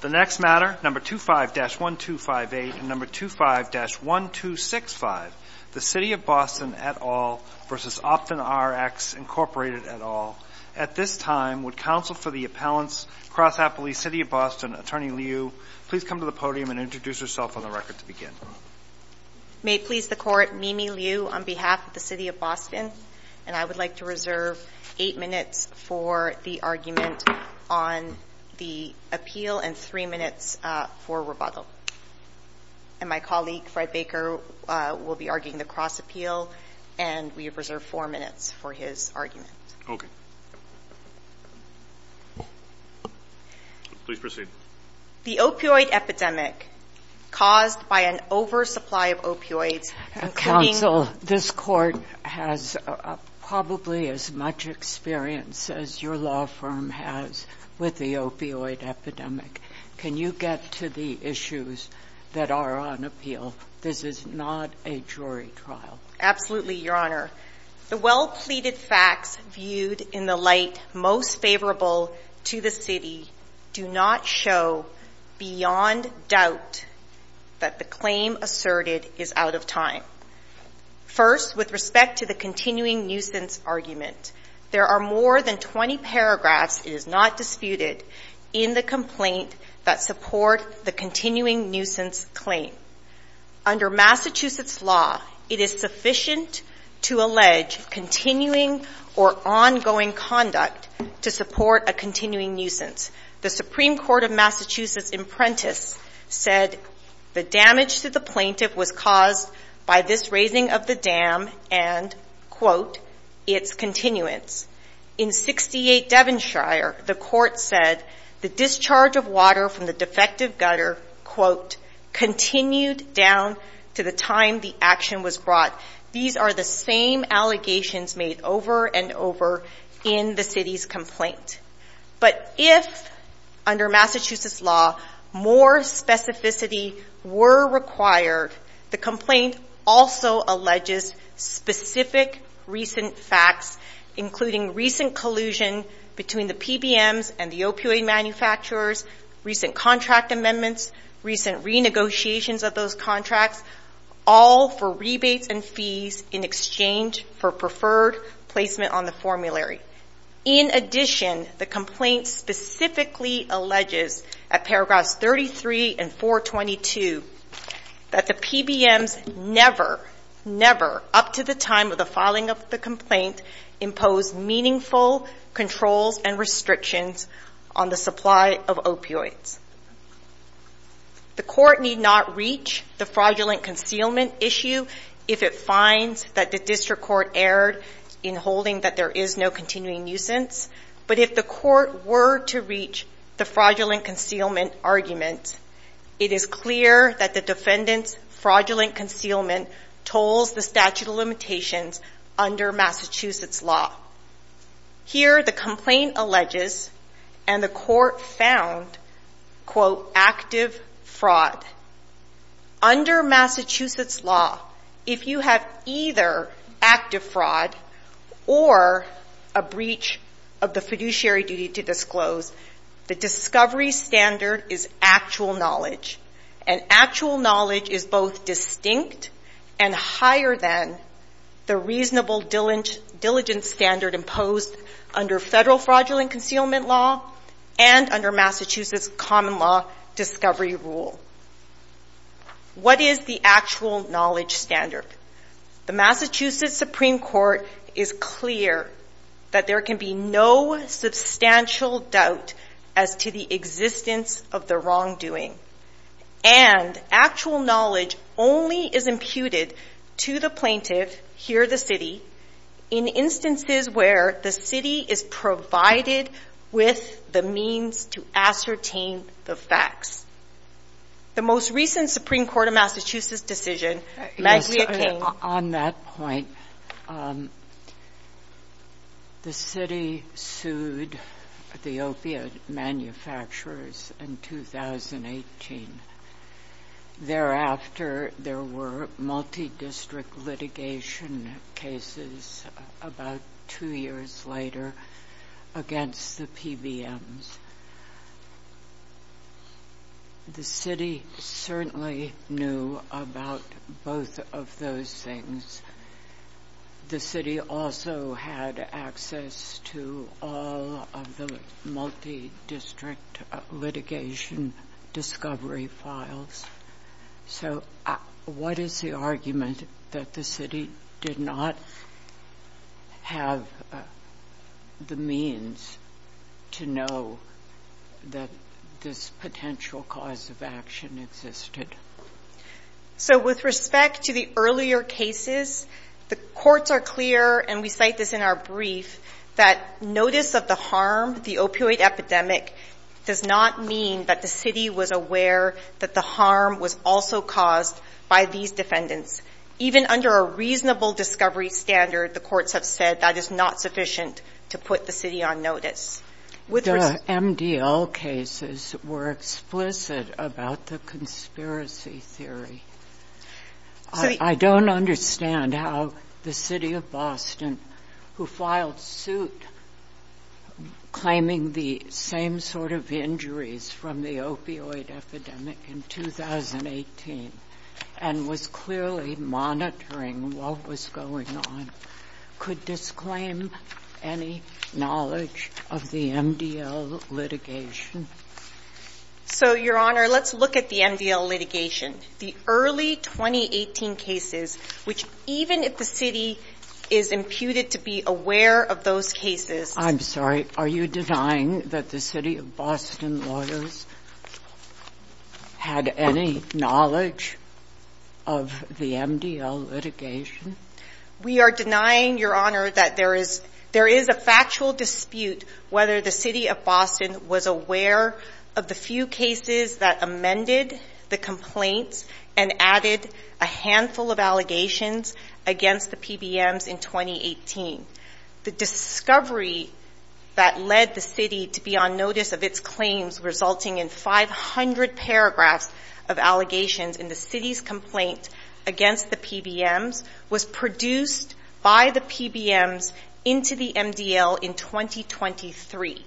The next matter, No. 25-1258 and No. 25-1265, the City of Boston et al. v. OptumRx, Inc. et al. At this time, would counsel for the appellants, Cross Appley City of Boston, Attorney Liu, please come to the podium and introduce yourself on the record to begin. May it please the court, Mimi Liu on behalf of the City of Boston, and I would like to reserve eight minutes for the argument on the appeal and three minutes for rebuttal. And my colleague, Fred Baker, will be arguing the Cross Appeal, and we reserve four minutes for his argument. Okay. Please proceed. The opioid epidemic caused by an oversupply of opioids. Counsel, this court has probably as much experience as your law firm has with the opioid epidemic. Can you get to the issues that are on appeal? This is not a jury trial. Absolutely, Your Honor. The well-pleaded facts viewed in the light most favorable to the city do not show beyond doubt that the claim asserted is out of time. First, with respect to the continuing nuisance argument, there are more than 20 paragraphs, it is not disputed, in the complaint that support the continuing nuisance claim. Under Massachusetts law, it is sufficient to allege continuing or ongoing conduct to support a continuing nuisance. The Supreme Court of Massachusetts, in Prentiss, said the damage to the plaintiff was caused by this raising of the dam and, quote, its continuance. In 68 Devonshire, the court said the discharge of water from the defective gutter, quote, continued down to the time the action was brought. These are the same allegations made over and over in the city's complaint. But if, under Massachusetts law, more specificity were required, the complaint also alleges specific recent facts, including recent collusion between the PBMs and the opioid manufacturers, recent contract amendments, recent renegotiations of those contracts, all for rebates and fees in exchange for preferred placement on the formulary. In addition, the complaint specifically alleges, at paragraphs 33 and 422, that the PBMs never, never, up to the time of the filing of the complaint, imposed meaningful controls and restrictions on the supply of opioids. The court need not reach the fraudulent concealment issue if it finds that the district court erred in holding that there is no continuing nuisance. But if the court were to reach the fraudulent concealment argument, it is clear that the defendant's fraudulent concealment tolls the statute of limitations under Massachusetts law. Here, the complaint alleges, and the court found, quote, active fraud. Under Massachusetts law, if you have either active fraud or a breach of the fiduciary duty to disclose, the discovery standard is actual knowledge. And actual knowledge is both distinct and higher than the reasonable diligence standard imposed under federal fraudulent concealment law and under Massachusetts common law discovery rule. What is the actual knowledge standard? The Massachusetts Supreme Court is clear that there can be no substantial doubt as to the existence of the wrongdoing. And actual knowledge only is imputed to the plaintiff, here the city, in instances where the city is provided with the means to ascertain the facts. The most recent Supreme Court of Massachusetts decision, On that point, the city sued the opiate manufacturers in 2018. Thereafter, there were multi-district litigation cases about two years later against the PBMs. The city certainly knew about both of those things. The city also had access to all of the multi-district litigation discovery files. So what is the argument that the city did not have the means to know that this potential cause of action existed? So with respect to the earlier cases, the courts are clear, and we cite this in our brief, that notice of the harm, the opioid epidemic, does not mean that the city was aware that the harm was also caused by these defendants. Even under a reasonable discovery standard, the courts have said that is not sufficient to put the city on notice. With respect- The MDL cases were explicit about the conspiracy theory. I don't understand how the city of Boston, who filed suit claiming the same sort of injuries from the opioid epidemic in 2018, and was clearly monitoring what was going on, could disclaim any knowledge of the MDL litigation. So, Your Honor, let's look at the MDL litigation. The early 2018 cases, which even if the city is imputed to be aware of those cases- I'm sorry, are you denying that the city of Boston lawyers had any knowledge of the MDL litigation? We are denying, Your Honor, that there is a factual dispute whether the city of Boston was aware of the few cases that amended the complaints and added a handful of allegations against the PBMs in 2018. The discovery that led the city to be on notice of its claims, resulting in 500 paragraphs of allegations in the city's complaint against the PBMs was produced by the PBMs into the MDL in 2023.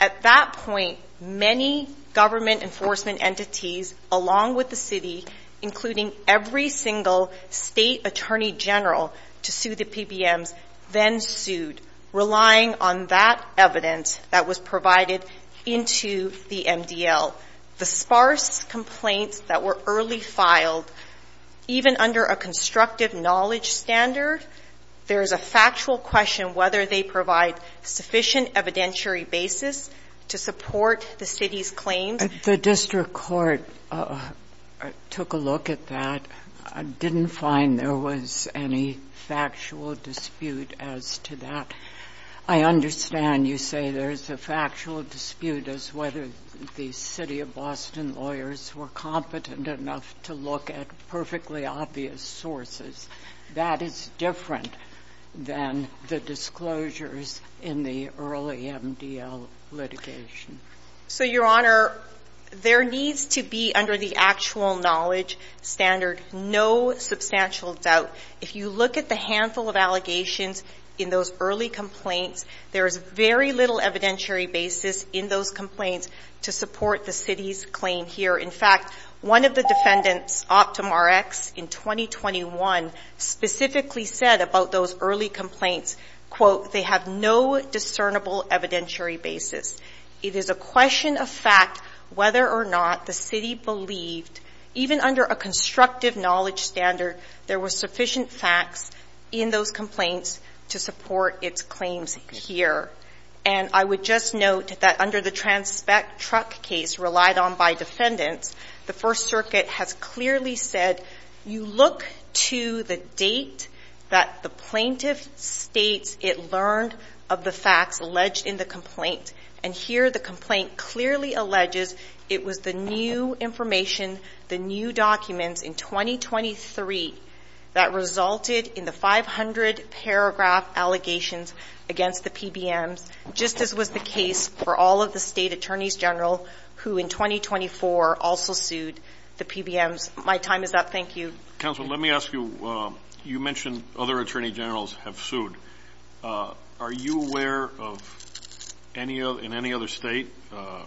At that point, many government enforcement entities, along with the city, including every single state attorney general to sue the PBMs, then sued, relying on that evidence that was provided into the MDL. The sparse complaints that were early filed, even under a constructive knowledge standard, there is a factual question whether they provide sufficient evidentiary basis to support the city's claims. The district court took a look at that, and didn't find there was any factual dispute as to that. I understand you say there's a factual dispute as whether the city of Boston lawyers were competent enough to look at perfectly obvious sources. That is different than the disclosures in the early MDL litigation. So, Your Honor, there needs to be, under the actual knowledge standard, no substantial doubt. If you look at the handful of allegations in those early complaints, there is very little evidentiary basis in those complaints to support the city's claim here. In fact, one of the defendants, OptumRx, in 2021, specifically said about those early complaints, quote, they have no discernible evidentiary basis. It is a question of fact whether or not the city believed, even under a constructive knowledge standard, there were sufficient facts in those complaints to support its claims here. And I would just note that under the Transpect Truck case relied on by defendants, the First Circuit has clearly said, you look to the date that the plaintiff states it learned of the facts alleged in the complaint. And here the complaint clearly alleges it was the new information, the new documents in 2023 that resulted in the 500 paragraph allegations against the PBMs, just as was the case for all of the state attorneys general who in 2024 also sued the PBMs. My time is up. Thank you. Counselor, let me ask you, you mentioned other attorney generals have sued. Are you aware of in any other state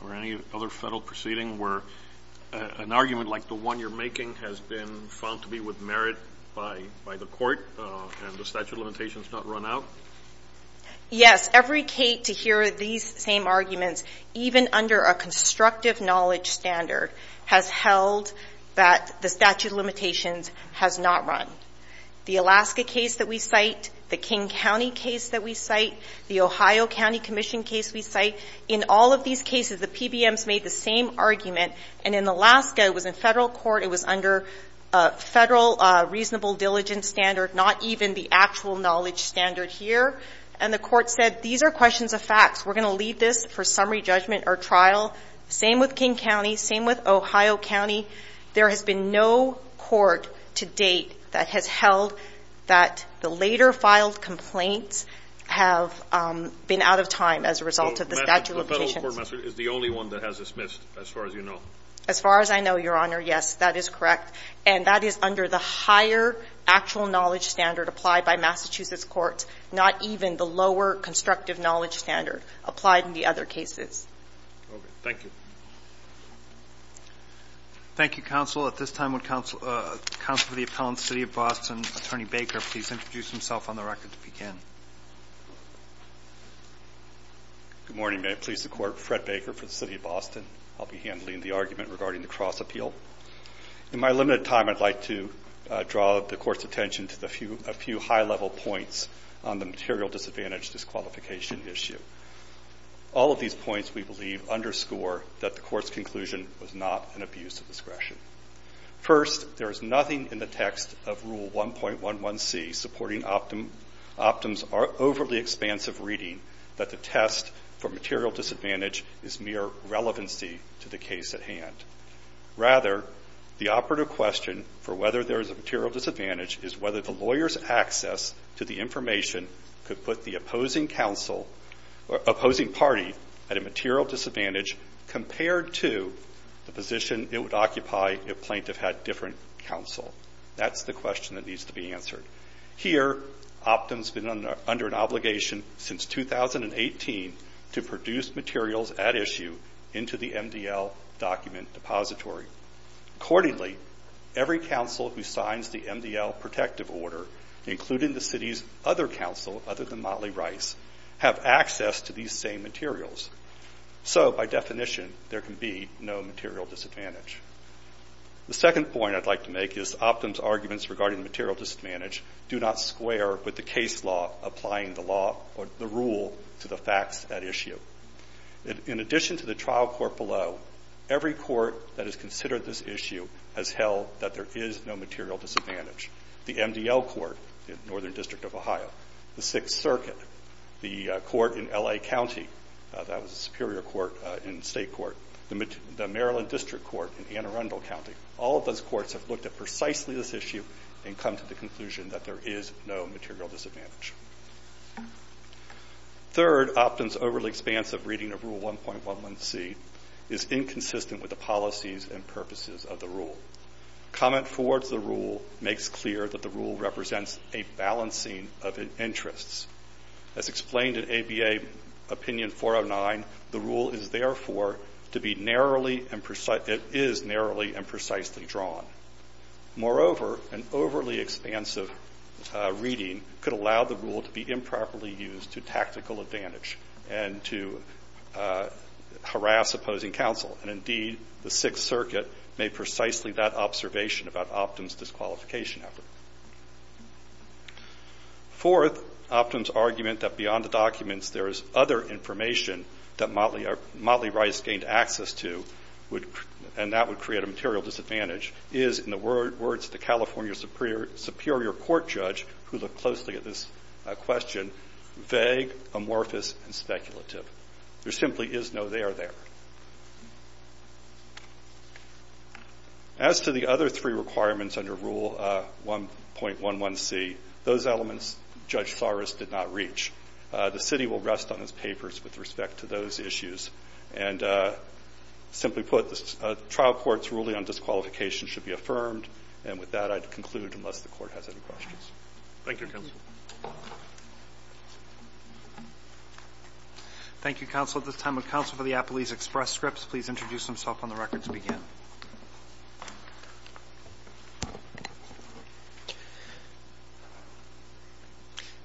or any other federal proceeding where an argument like the one you're making has been found to be with merit by the court and the statute of limitations not run out? Yes, every case to hear these same arguments, even under a constructive knowledge standard, has held that the statute of limitations has not run. The Alaska case that we cite, the King County case that we cite, the Ohio County Commission case we cite, in all of these cases, the PBMs made the same argument. And in Alaska, it was in federal court. It was under a federal reasonable diligence standard, not even the actual knowledge standard here. And the court said, these are questions of facts. We're gonna leave this for summary judgment or trial. Same with King County, same with Ohio County. There has been no court to date that has held that the later filed complaints have been out of time as a result of the statute of limitations. So the federal court message is the only one that has dismissed, as far as you know? As far as I know, Your Honor, yes, that is correct. And that is under the higher actual knowledge standard applied by Massachusetts courts, not even the lower constructive knowledge standard applied in the other cases. Okay, thank you. Thank you, Counsel. At this time, would Counsel for the Appellant, City of Boston, Attorney Baker, please introduce himself on the record to begin. Good morning. May it please the Court, Fred Baker for the City of Boston. I'll be handling the argument regarding the cross appeal. In my limited time, I'd like to draw the Court's attention to a few high-level points on the material disadvantage disqualification issue. All of these points, we believe, underscore that the Court's conclusion was not an abuse of discretion. First, there is nothing in the text of Rule 1.11c supporting Optum's overly expansive reading that the test for material disadvantage is mere relevancy to the case at hand. Rather, the operative question for whether there is a material disadvantage is whether the lawyer's access to the information could put the opposing counsel, or opposing party, at a material disadvantage compared to the position it would occupy if plaintiff had different counsel. That's the question that needs to be answered. Here, Optum's been under an obligation since 2018 to produce materials at issue into the MDL document depository. Accordingly, every counsel who signs the MDL protective order, including the city's other counsel, other than Motley Rice, have access to these same materials. So, by definition, there can be no material disadvantage. The second point I'd like to make is Optum's arguments regarding the material disadvantage do not square with the case law applying the law or the rule to the facts at issue. In addition to the trial court below, every court that has considered this issue has held that there is no material disadvantage. The MDL court in Northern District of Ohio, the Sixth Circuit, the court in L.A. County, that was a superior court in state court, the Maryland District Court in Anne Arundel County, all of those courts have looked at precisely this issue and come to the conclusion that there is no material disadvantage. Third, Optum's overly expansive reading of Rule 1.11c is inconsistent with the policies and purposes of the rule. Comment forward to the rule makes clear that the rule represents a balancing of interests. As explained in ABA Opinion 409, the rule is therefore to be narrowly and precise, it is narrowly and precisely drawn. Moreover, an overly expansive reading could allow the rule to be improperly used to tactical advantage and to harass opposing counsel. And indeed, the Sixth Circuit made precisely that observation about Optum's disqualification effort. Fourth, Optum's argument that beyond the documents there is other information that Motley Rice gained access to and that would create a material disadvantage is in the words of the California Superior Court Judge who looked closely at this question, vague, amorphous, and speculative. There simply is no there there. As to the other three requirements under Rule 1.11c, those elements Judge Saras did not reach. The city will rest on his papers with respect to those issues and simply put, the trial court's ruling on disqualification should be affirmed. And with that, I'd conclude unless the court has any questions. Thank you, counsel. Thank you, counsel. At this time, would counsel for the Appalese Express Scripts please introduce himself on the record to begin.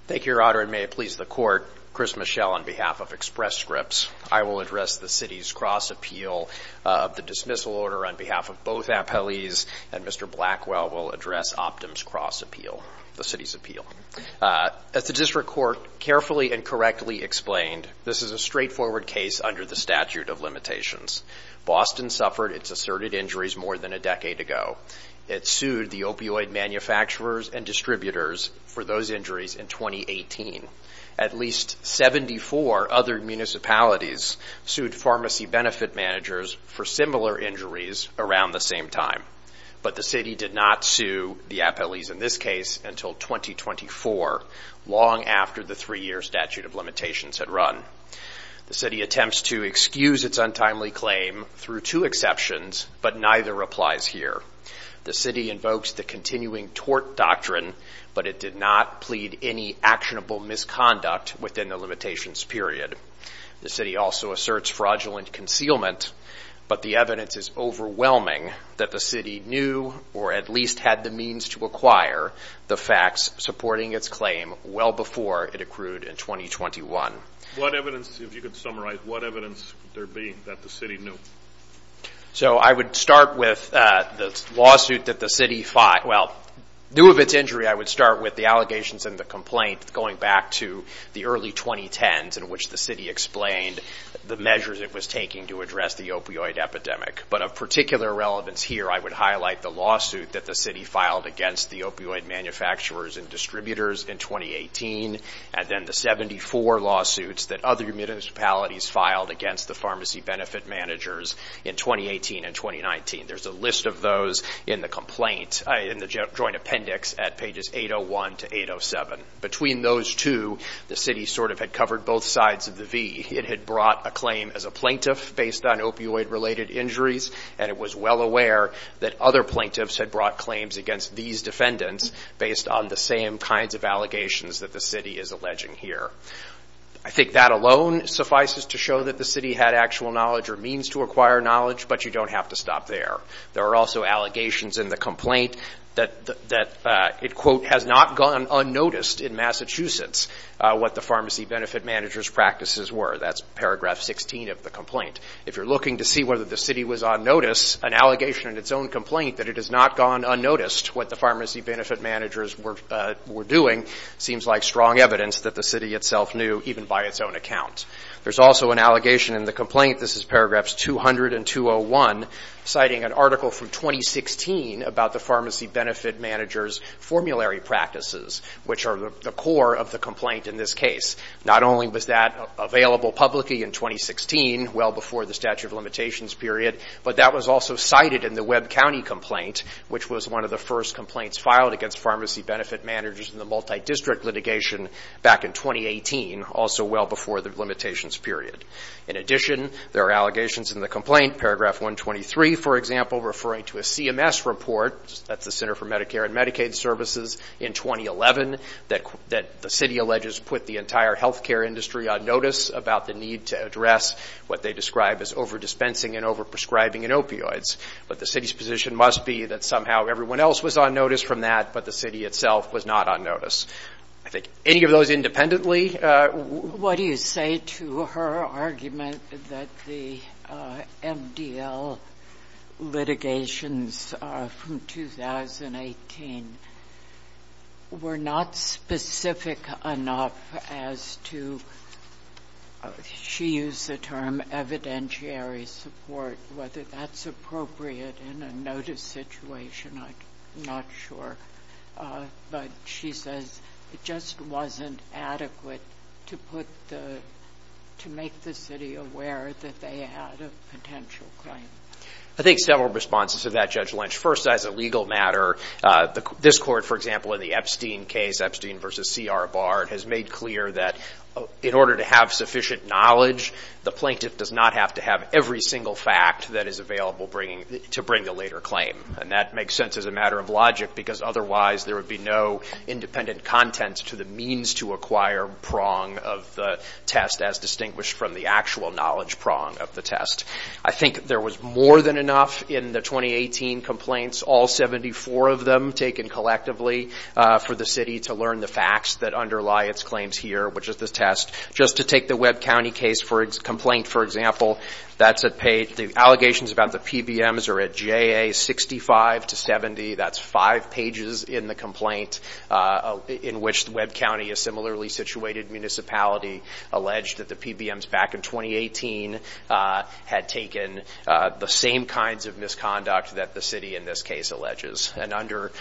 Thank you, Your Honor. And may it please the court, Chris Michel on behalf of Express Scripts. I will address the city's cross appeal. The dismissal order on behalf of both Appalese and Mr. Blackwell will address Optum's cross appeal, the city's appeal. As the district court carefully and correctly explained, this is a straightforward case under the statute of limitations. Boston suffered its asserted injuries more than a decade ago. It sued the opioid manufacturers and distributors for those injuries in 2018. At least 74 other municipalities sued pharmacy benefit managers for similar injuries around the same time. But the city did not sue the Appalese in this case until 2024, long after the three year statute of limitations had run. The city attempts to excuse its untimely claim through two exceptions, but neither applies here. The city invokes the continuing tort doctrine, but it did not plead any actionable misconduct within the limitations period. The city also asserts fraudulent concealment, but the evidence is overwhelming that the city knew or at least had the means to acquire the facts supporting its claim well before it accrued in 2021. What evidence, if you could summarize, what evidence there being that the city knew? So I would start with the lawsuit that the city, well, new of its injury, I would start with the allegations and the complaint going back to the early 2010s in which the city explained the measures it was taking to address the opioid epidemic. But of particular relevance here, I would highlight the lawsuit that the city filed against the opioid manufacturers and distributors in 2018. And then the 74 lawsuits that other municipalities filed against the pharmacy benefit managers in 2018 and 2019. There's a list of those in the complaint, in the joint appendix at pages 801 to 807. Between those two, the city sort of had covered both sides of the V. It had brought a claim as a plaintiff based on opioid related injuries. And it was well aware that other plaintiffs had brought claims against these defendants based on the same kinds of allegations that the city is alleging here. I think that alone suffices to show that the city had actual knowledge or means to acquire knowledge, but you don't have to stop there. There are also allegations in the complaint that it, quote, has not gone unnoticed in Massachusetts what the pharmacy benefit managers practices were. That's paragraph 16 of the complaint. If you're looking to see whether the city was on notice, an allegation in its own complaint that it has not gone unnoticed what the pharmacy benefit managers were doing seems like strong evidence that the city itself knew even by its own account. There's also an allegation in the complaint, this is paragraphs 200 and 201, citing an article from 2016 about the pharmacy benefit managers formulary practices, which are the core of the complaint in this case. Not only was that available publicly in 2016, well before the statute of limitations period, but that was also cited in the Webb County complaint, which was one of the first complaints filed against pharmacy benefit managers in the multi-district litigation back in 2018, also well before the limitations period. In addition, there are allegations in the complaint, paragraph 123, for example, referring to a CMS report, that's the Center for Medicare and Medicaid Services, in 2011, that the city alleges put the entire healthcare industry on notice about the need to address what they describe as over-dispensing and over-prescribing in opioids. But the city's position must be that somehow everyone else was on notice from that, but the city itself was not on notice. I think any of those independently. What do you say to her argument that the MDL litigations from 2018 were not specific enough as to, she used the term evidentiary support, whether that's appropriate in a notice situation, I'm not sure. But she says it just wasn't adequate to make the city aware that they had a potential claim. I think several responses to that, Judge Lynch. First, as a legal matter, this court, for example, in the Epstein case, Epstein versus C.R. Bard, has made clear that in order to have sufficient knowledge, the plaintiff does not have to have every single fact that is available to bring the later claim. And that makes sense as a matter of logic because otherwise there would be no independent content to the means to acquire prong of the test as distinguished from the actual knowledge prong of the test. I think there was more than enough in the 2018 complaints, all 74 of them taken collectively for the city to learn the facts that underlie its claims here, which is the test. Just to take the Webb County case for complaint, for example, the allegations about the PBMs are at J.A. 65 to 70. That's five pages in the complaint in which the Webb County, a similarly situated municipality, alleged that the PBMs back in 2018 had taken the same kinds of misconduct that the city in this case alleges. And under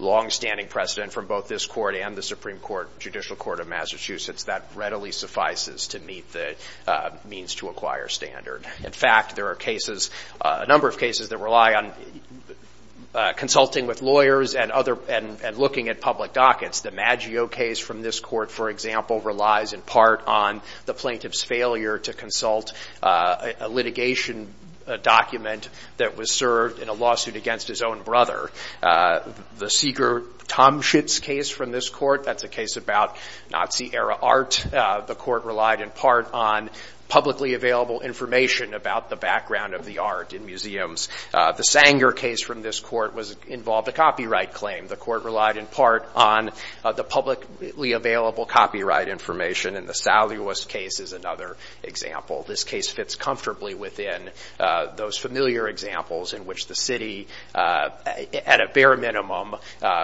longstanding precedent from both this court and the Supreme Court Judicial Court of Massachusetts, that readily suffices to meet the means to acquire standard. In fact, there are cases, a number of cases that rely on consulting with lawyers and looking at public dockets. The Maggio case from this court, for example, relies in part on the plaintiff's failure to consult a litigation document that was served in a lawsuit against his own brother. The Seeger-Tomschitz case from this court, that's a case about Nazi era art. The court relied in part on publicly available information about the background of the art in museums. The Sanger case from this court involved a copyright claim. The court relied in part on the publicly available copyright information. And the Salywus case is another example. This case fits comfortably within those familiar examples in which the city, at a bare minimum,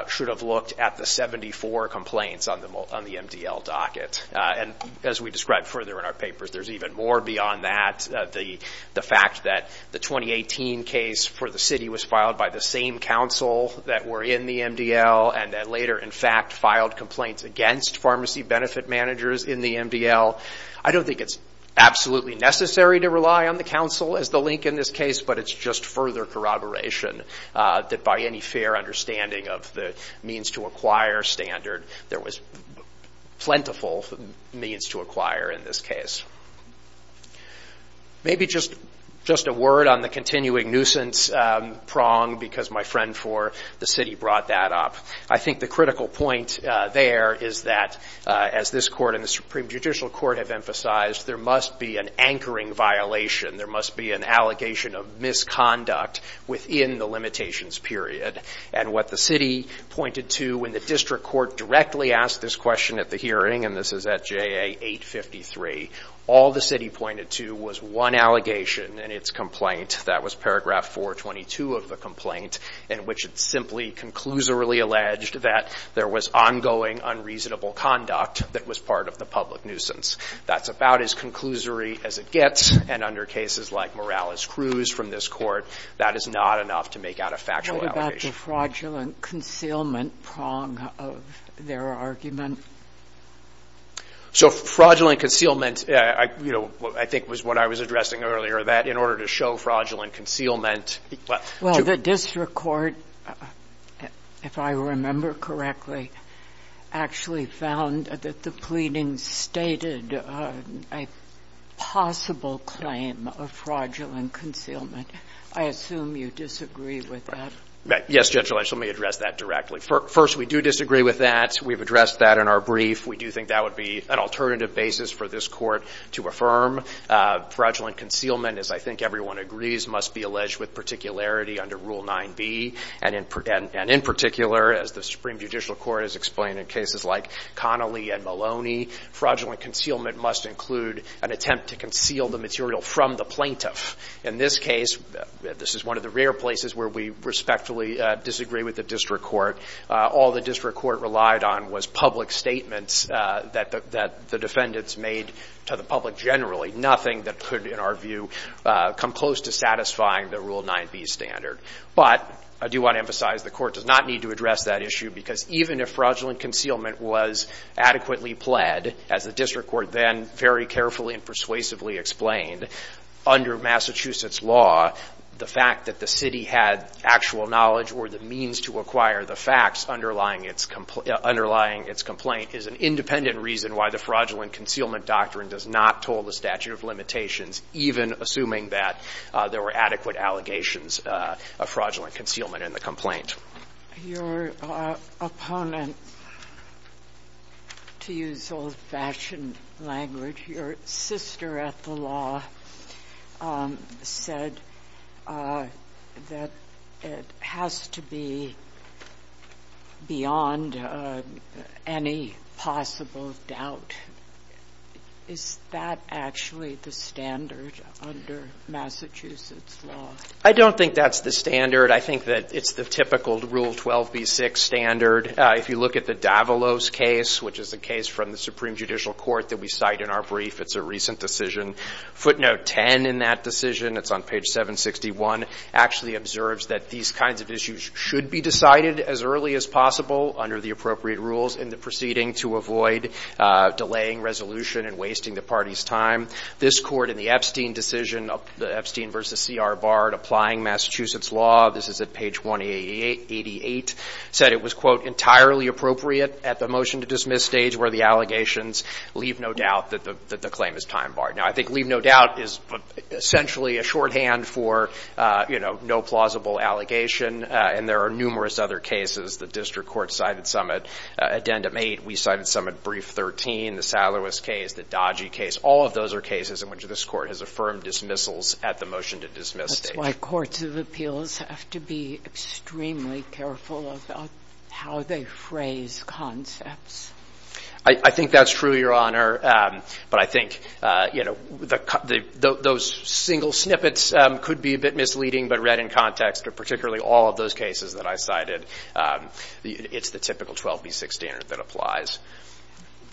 should have looked at the 74 complaints on the MDL docket. And as we described further in our papers, there's even more beyond that. The fact that the 2018 case for the city was filed by the same council that were in the MDL and that later, in fact, filed complaints against pharmacy benefit managers in the MDL. I don't think it's absolutely necessary to rely on the council as the link in this case, but it's just further corroboration that by any fair understanding of the means to acquire standard, there was plentiful means to acquire in this case. Maybe just a word on the continuing nuisance prong because my friend for the city brought that up. I think the critical point there is that, as this court and the Supreme Judicial Court have emphasized, there must be an anchoring violation. There must be an allegation of misconduct within the limitations period. And what the city pointed to when the district court directly asked this question at the hearing, and this is at JA 853, all the city pointed to was one allegation in its complaint. That was paragraph 422 of the complaint in which it simply conclusively alleged that there was ongoing unreasonable conduct that was part of the public nuisance. That's about as conclusory as it gets. And under cases like Morales-Cruz from this court, that is not enough to make out a factual allegation. What about the fraudulent concealment prong of their argument? So fraudulent concealment, I think was what I was addressing earlier, that in order to show fraudulent concealment. Well, the district court, if I remember correctly, actually found that the pleading stated a possible claim of fraudulent concealment. I assume you disagree with that. Yes, Judge Lynch, let me address that directly. First, we do disagree with that. We've addressed that in our brief. We do think that would be an alternative basis for this court to affirm. Fraudulent concealment, as I think everyone agrees, must be alleged with particularity under Rule 9b. And in particular, as the Supreme Judicial Court has explained in cases like Connolly and Maloney, fraudulent concealment must include an attempt to conceal the material from the plaintiff. In this case, this is one of the rare places where we respectfully disagree with the district court. All the district court relied on was public statements that the defendants made to the public generally, nothing that could, in our view, come close to satisfying the Rule 9b standard. But I do want to emphasize the court does not need to address that issue because even if fraudulent concealment was adequately pled, as the district court then very carefully and persuasively explained, under Massachusetts law, the fact that the city had actual knowledge or the means to acquire the facts underlying its complaint is an independent reason why the fraudulent concealment doctrine does not toll the statute of limitations, even assuming that there were adequate allegations of fraudulent concealment in the complaint. Your opponent, to use old-fashioned language, your sister at the law said that it has to be beyond any possible doubt. Is that actually the standard under Massachusetts law? I don't think that's the standard. I think that it's the typical Rule 12b6 standard. If you look at the Davalos case, which is a case from the Supreme Judicial Court that we cite in our brief, it's a recent decision. Footnote 10 in that decision, it's on page 761, actually observes that these kinds of issues should be decided as early as possible under the appropriate rules in the proceeding to avoid delaying resolution and wasting the party's time. This court in the Epstein decision, Epstein v. C.R. Bard, applying Massachusetts law, this is at page 188, said it was, quote, entirely appropriate at the motion to dismiss stage where the allegations leave no doubt that the claim is time barred. Now, I think leave no doubt is essentially a shorthand for, you know, no plausible allegation, and there are numerous other cases the district court cited some at addendum 8. We cited some at brief 13, the Salawis case, the Dodgy case. All of those are cases in which this court has affirmed dismissals at the motion to dismiss stage. That's why courts of appeals have to be extremely careful about how they phrase concepts. I think that's true, Your Honor, but I think, you know, those single snippets could be a bit misleading, but read in context, or particularly all of those cases that I cited, it's the typical 12 v. 6 standard that applies.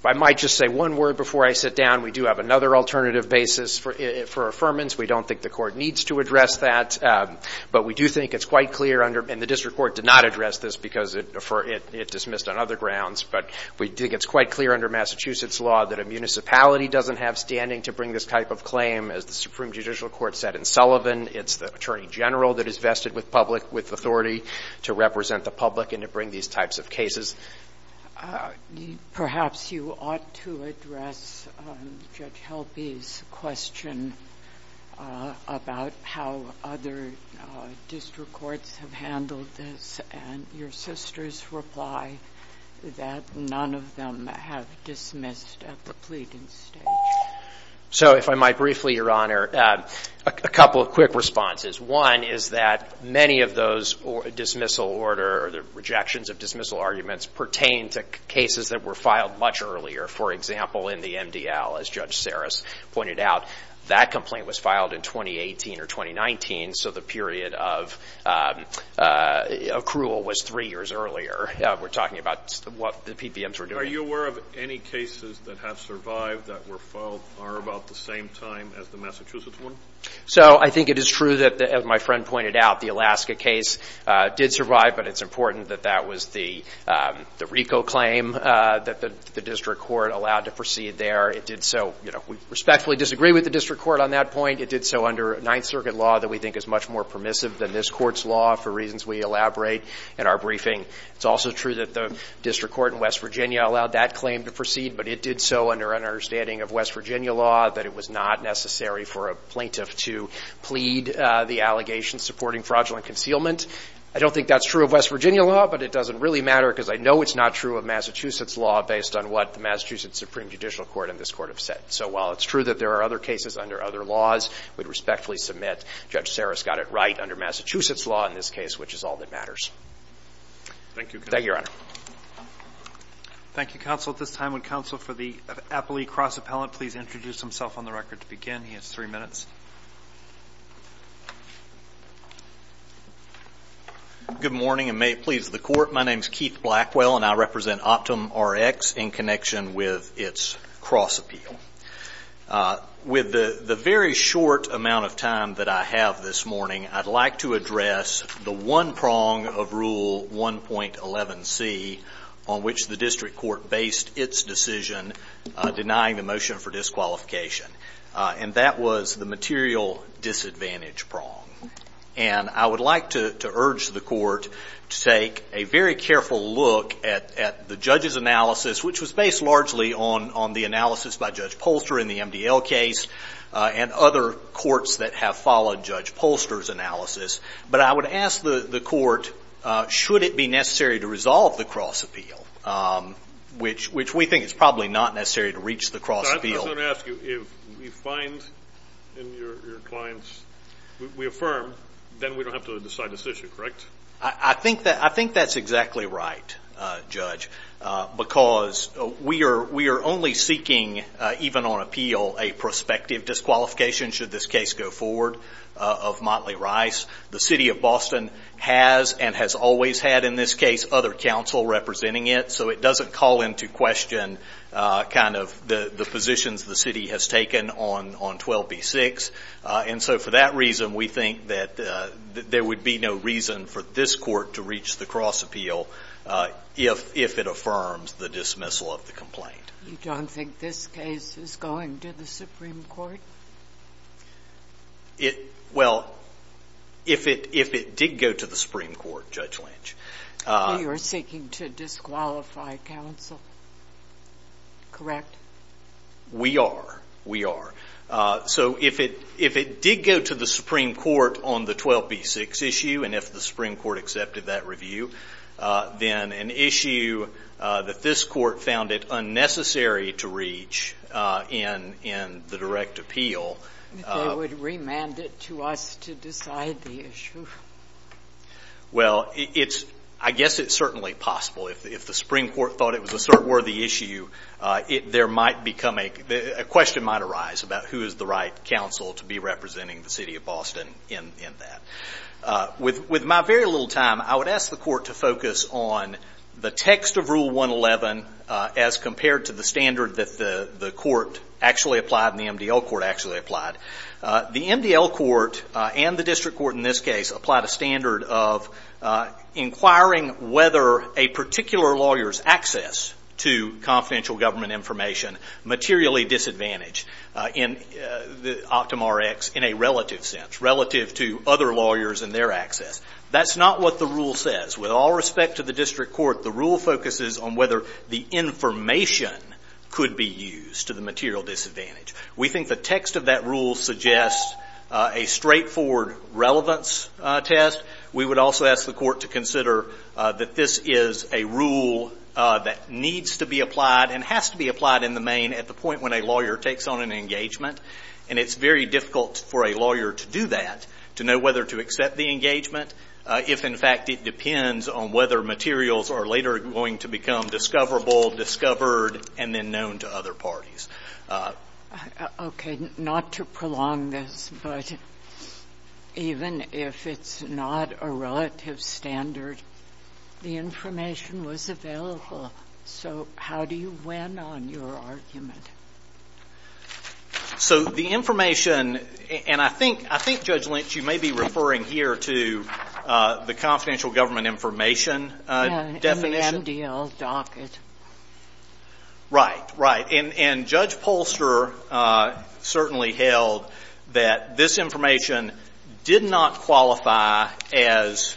I might just say one word before I sit down. We do have another alternative basis for affirmance. We don't think the court needs to address that, but we do think it's quite clear under, and the district court did not address this because it dismissed on other grounds, but we think it's quite clear under Massachusetts law that a municipality doesn't have standing to bring this type of claim. As the Supreme Judicial Court said in Sullivan, it's the attorney general that is vested with public, with authority to represent the public and to bring these types of cases. Perhaps you ought to address Judge Helpe's question about how other district courts have handled this, and your sister's reply that none of them have dismissed at the pleading stage. So if I might briefly, Your Honor, a couple of quick responses. One is that many of those dismissal order, the rejections of dismissal arguments pertain to cases that were filed much earlier. For example, in the MDL, as Judge Saris pointed out, that complaint was filed in 2018 or 2019, so the period of accrual was three years earlier. We're talking about what the PPMs were doing. Are you aware of any cases that have survived that were filed are about the same time as the Massachusetts one? So I think it is true that, as my friend pointed out, the Alaska case did survive, but it's important that that was the RICO claim that the district court allowed to proceed there. It did so, we respectfully disagree with the district court on that point. It did so under Ninth Circuit law that we think is much more permissive than this court's law, for reasons we elaborate in our briefing. It's also true that the district court in West Virginia allowed that claim to proceed, but it did so under an understanding of West Virginia law that it was not necessary for a plaintiff to plead the allegations supporting fraudulent concealment. I don't think that's true of West Virginia law, but it doesn't really matter because I know it's not true of Massachusetts law based on what the Massachusetts Supreme Judicial Court and this court have said. So while it's true that there are other cases under other laws, we'd respectfully submit Judge Sarris got it right under Massachusetts law in this case, which is all that matters. Thank you. Thank you, Your Honor. Thank you, Counsel. At this time, would Counsel for the Appley Cross Appellant please introduce himself on the record to begin? He has three minutes. Good morning and may it please the court. My name's Keith Blackwell and I represent OptumRx in connection with its cross appeal. With the very short amount of time that I have this morning, I'd like to address the one prong of Rule 1.11c on which the district court based its decision denying the motion for disqualification. And that was the material disadvantage prong. And I would like to urge the court to take a very careful look at the judge's analysis, which was based largely on the analysis by Judge Polster in the MDL case and other courts that have followed Judge Polster's analysis. But I would ask the court, should it be necessary to resolve the cross appeal? Which we think it's probably not necessary to reach the cross appeal. I was gonna ask you if you find in your clients, we affirm, then we don't have to decide this issue, correct? I think that's exactly right, Judge. Because we are only seeking, even on appeal, a prospective disqualification should this case go forward of Motley Rice. The city of Boston has and has always had, in this case, other counsel representing it. So it doesn't call into question the positions the city has taken on 12b6. And so for that reason, we think that there would be no reason for this court to reach the cross appeal if it affirms the dismissal of the complaint. You don't think this case is going to the Supreme Court? Well, if it did go to the Supreme Court, Judge Lynch. You're seeking to disqualify counsel, correct? We are, we are. So if it did go to the Supreme Court on the 12b6 issue, and if the Supreme Court accepted that review, then an issue that this court found it unnecessary to reach in the direct appeal. They would remand it to us to decide the issue. Well, it's, I guess it's certainly possible. If the Supreme Court thought it was a cert-worthy issue, there might become, a question might arise about who is the right counsel to be representing the city of Boston in that. With my very little time, I would ask the court to focus on the text of Rule 111 as compared to the standard that the court actually applied and the MDL court actually applied. The MDL court and the district court in this case applied a standard of inquiring whether a particular lawyer's access to confidential government information is materially disadvantaged in the OptumRx in a relative sense, relative to other lawyers and their access. That's not what the rule says. With all respect to the district court, the rule focuses on whether the information could be used to the material disadvantage. We think the text of that rule suggests a straightforward relevance test. We would also ask the court to consider that this is a rule that needs to be applied and has to be applied in the main at the point when a lawyer takes on an engagement. And it's very difficult for a lawyer to do that, to know whether to accept the engagement, if in fact it depends on whether materials are later going to become discoverable, discovered, and then known to other parties. Okay, not to prolong this, but even if it's not a relative standard, the information was available. So how do you win on your argument? So the information, and I think, I think Judge Lynch, you may be referring here to the confidential government information definition. In the MDL docket. Right, right. And Judge Polster certainly held that this information did not qualify as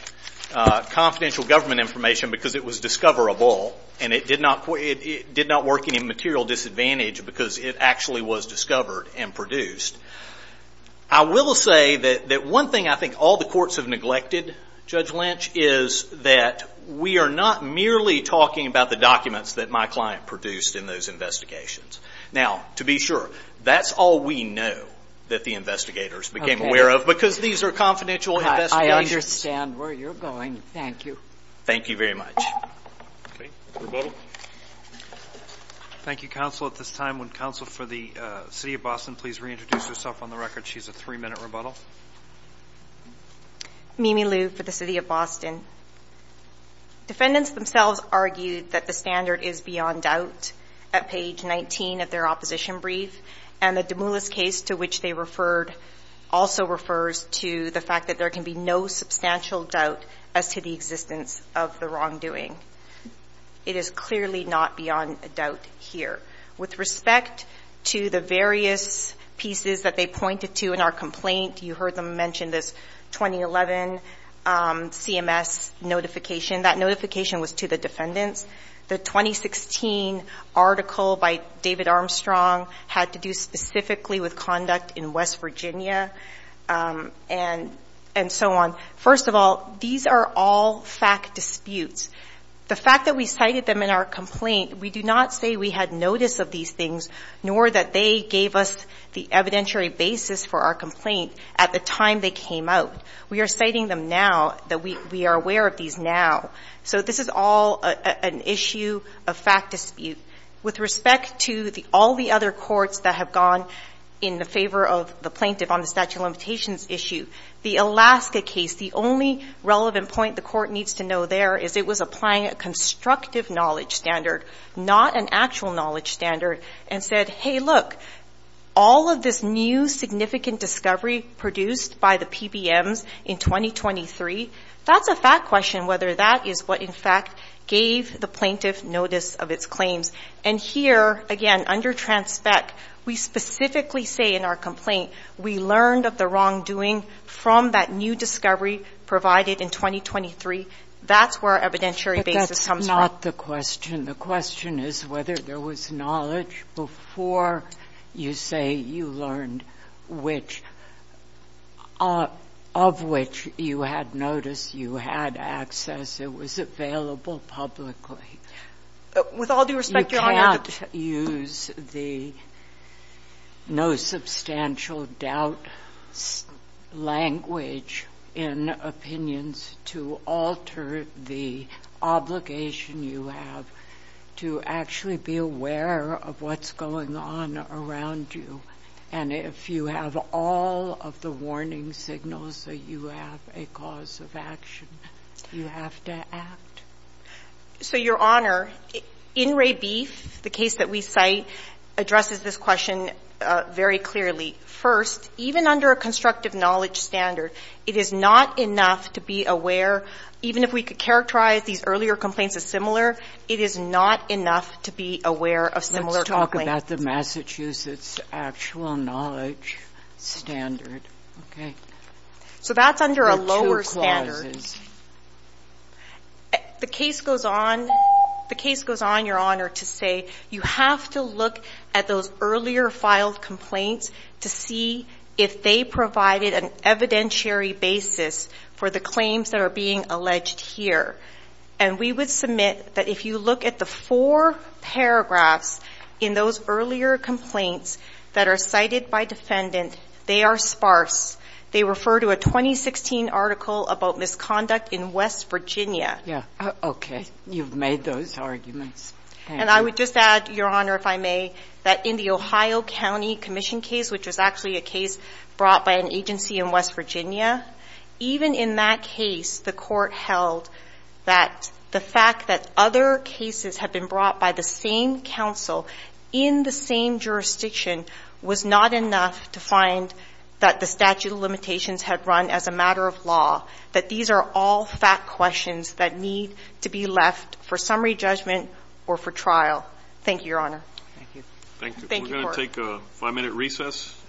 confidential government information because it was discoverable and it did not work any material disadvantage because it actually was discovered and produced. I will say that one thing I think all the courts have neglected, Judge Lynch, is that we are not merely talking about the documents that my client produced in those investigations. Now, to be sure, that's all we know that the investigators became aware of because these are confidential investigations. I understand where you're going, thank you. Thank you very much. Okay, rebuttal. Thank you, counsel. At this time, would counsel for the city of Boston please reintroduce herself on the record? She's a three-minute rebuttal. Mimi Liu for the city of Boston. Defendants themselves argued that the standard is beyond doubt at page 19 of their opposition brief. And the de Moulis case to which they referred also refers to the fact that there can be no substantial doubt as to the existence of the wrongdoing. It is clearly not beyond a doubt here. With respect to the various pieces that they pointed to in our complaint, you heard them mention this 2011 CMS notification. That notification was to the defendants. The 2016 article by David Armstrong had to do specifically with conduct in West Virginia and so on. First of all, these are all fact disputes. The fact that we cited them in our complaint, we do not say we had notice of these things, nor that they gave us the evidentiary basis for our complaint at the time they came out. We are citing them now, that we are aware of these now. So this is all an issue, a fact dispute. With respect to all the other courts that have gone in the favor of the plaintiff on the statute of limitations issue, the Alaska case, the only relevant point the court needs to know there is it was applying a constructive knowledge standard, not an actual knowledge standard, and said, hey look, all of this new significant discovery produced by the PBMs in 2023, that's a fact question whether that is what in fact gave the plaintiff notice of its claims. And here, again, under transpect, we specifically say in our complaint, we learned of the wrongdoing from that new discovery provided in 2023. That's where evidentiary basis comes from. But that's not the question. The question is whether there was knowledge before you say you learned which, of which you had notice, you had access, it was available publicly. With all due respect, Your Honor, you can't use the no substantial doubt language in opinions to alter the obligation you have to actually be aware of what's going on around you. And if you have all of the warning signals that you have a cause of action, you have to act. So Your Honor, in Ray Beef, the case that we cite addresses this question very clearly. First, even under a constructive knowledge standard, it is not enough to be aware, even if we could characterize these earlier complaints as similar, it is not enough to be aware of similar complaints. Let's talk about the Massachusetts actual knowledge standard, okay? So that's under a lower standard. The case goes on, Your Honor, to say you have to look at those earlier filed complaints to see if they provided an evidentiary basis for the claims that are being alleged here. And we would submit that if you look at the four paragraphs in those earlier complaints that are cited by defendant, they are sparse. They refer to a 2016 article about misconduct in West Virginia. Yeah, okay, you've made those arguments. And I would just add, Your Honor, if I may, that in the Ohio County Commission case, which was actually a case brought by an agency in West Virginia, even in that case, the court held that the fact that other cases had been brought by the same counsel in the same jurisdiction was not enough to find that the statute of limitations had run as a matter of law, that these are all fact questions that need to be left for summary judgment or for trial. Thank you, Your Honor. Thank you, Court. We're gonna take a five-minute recess.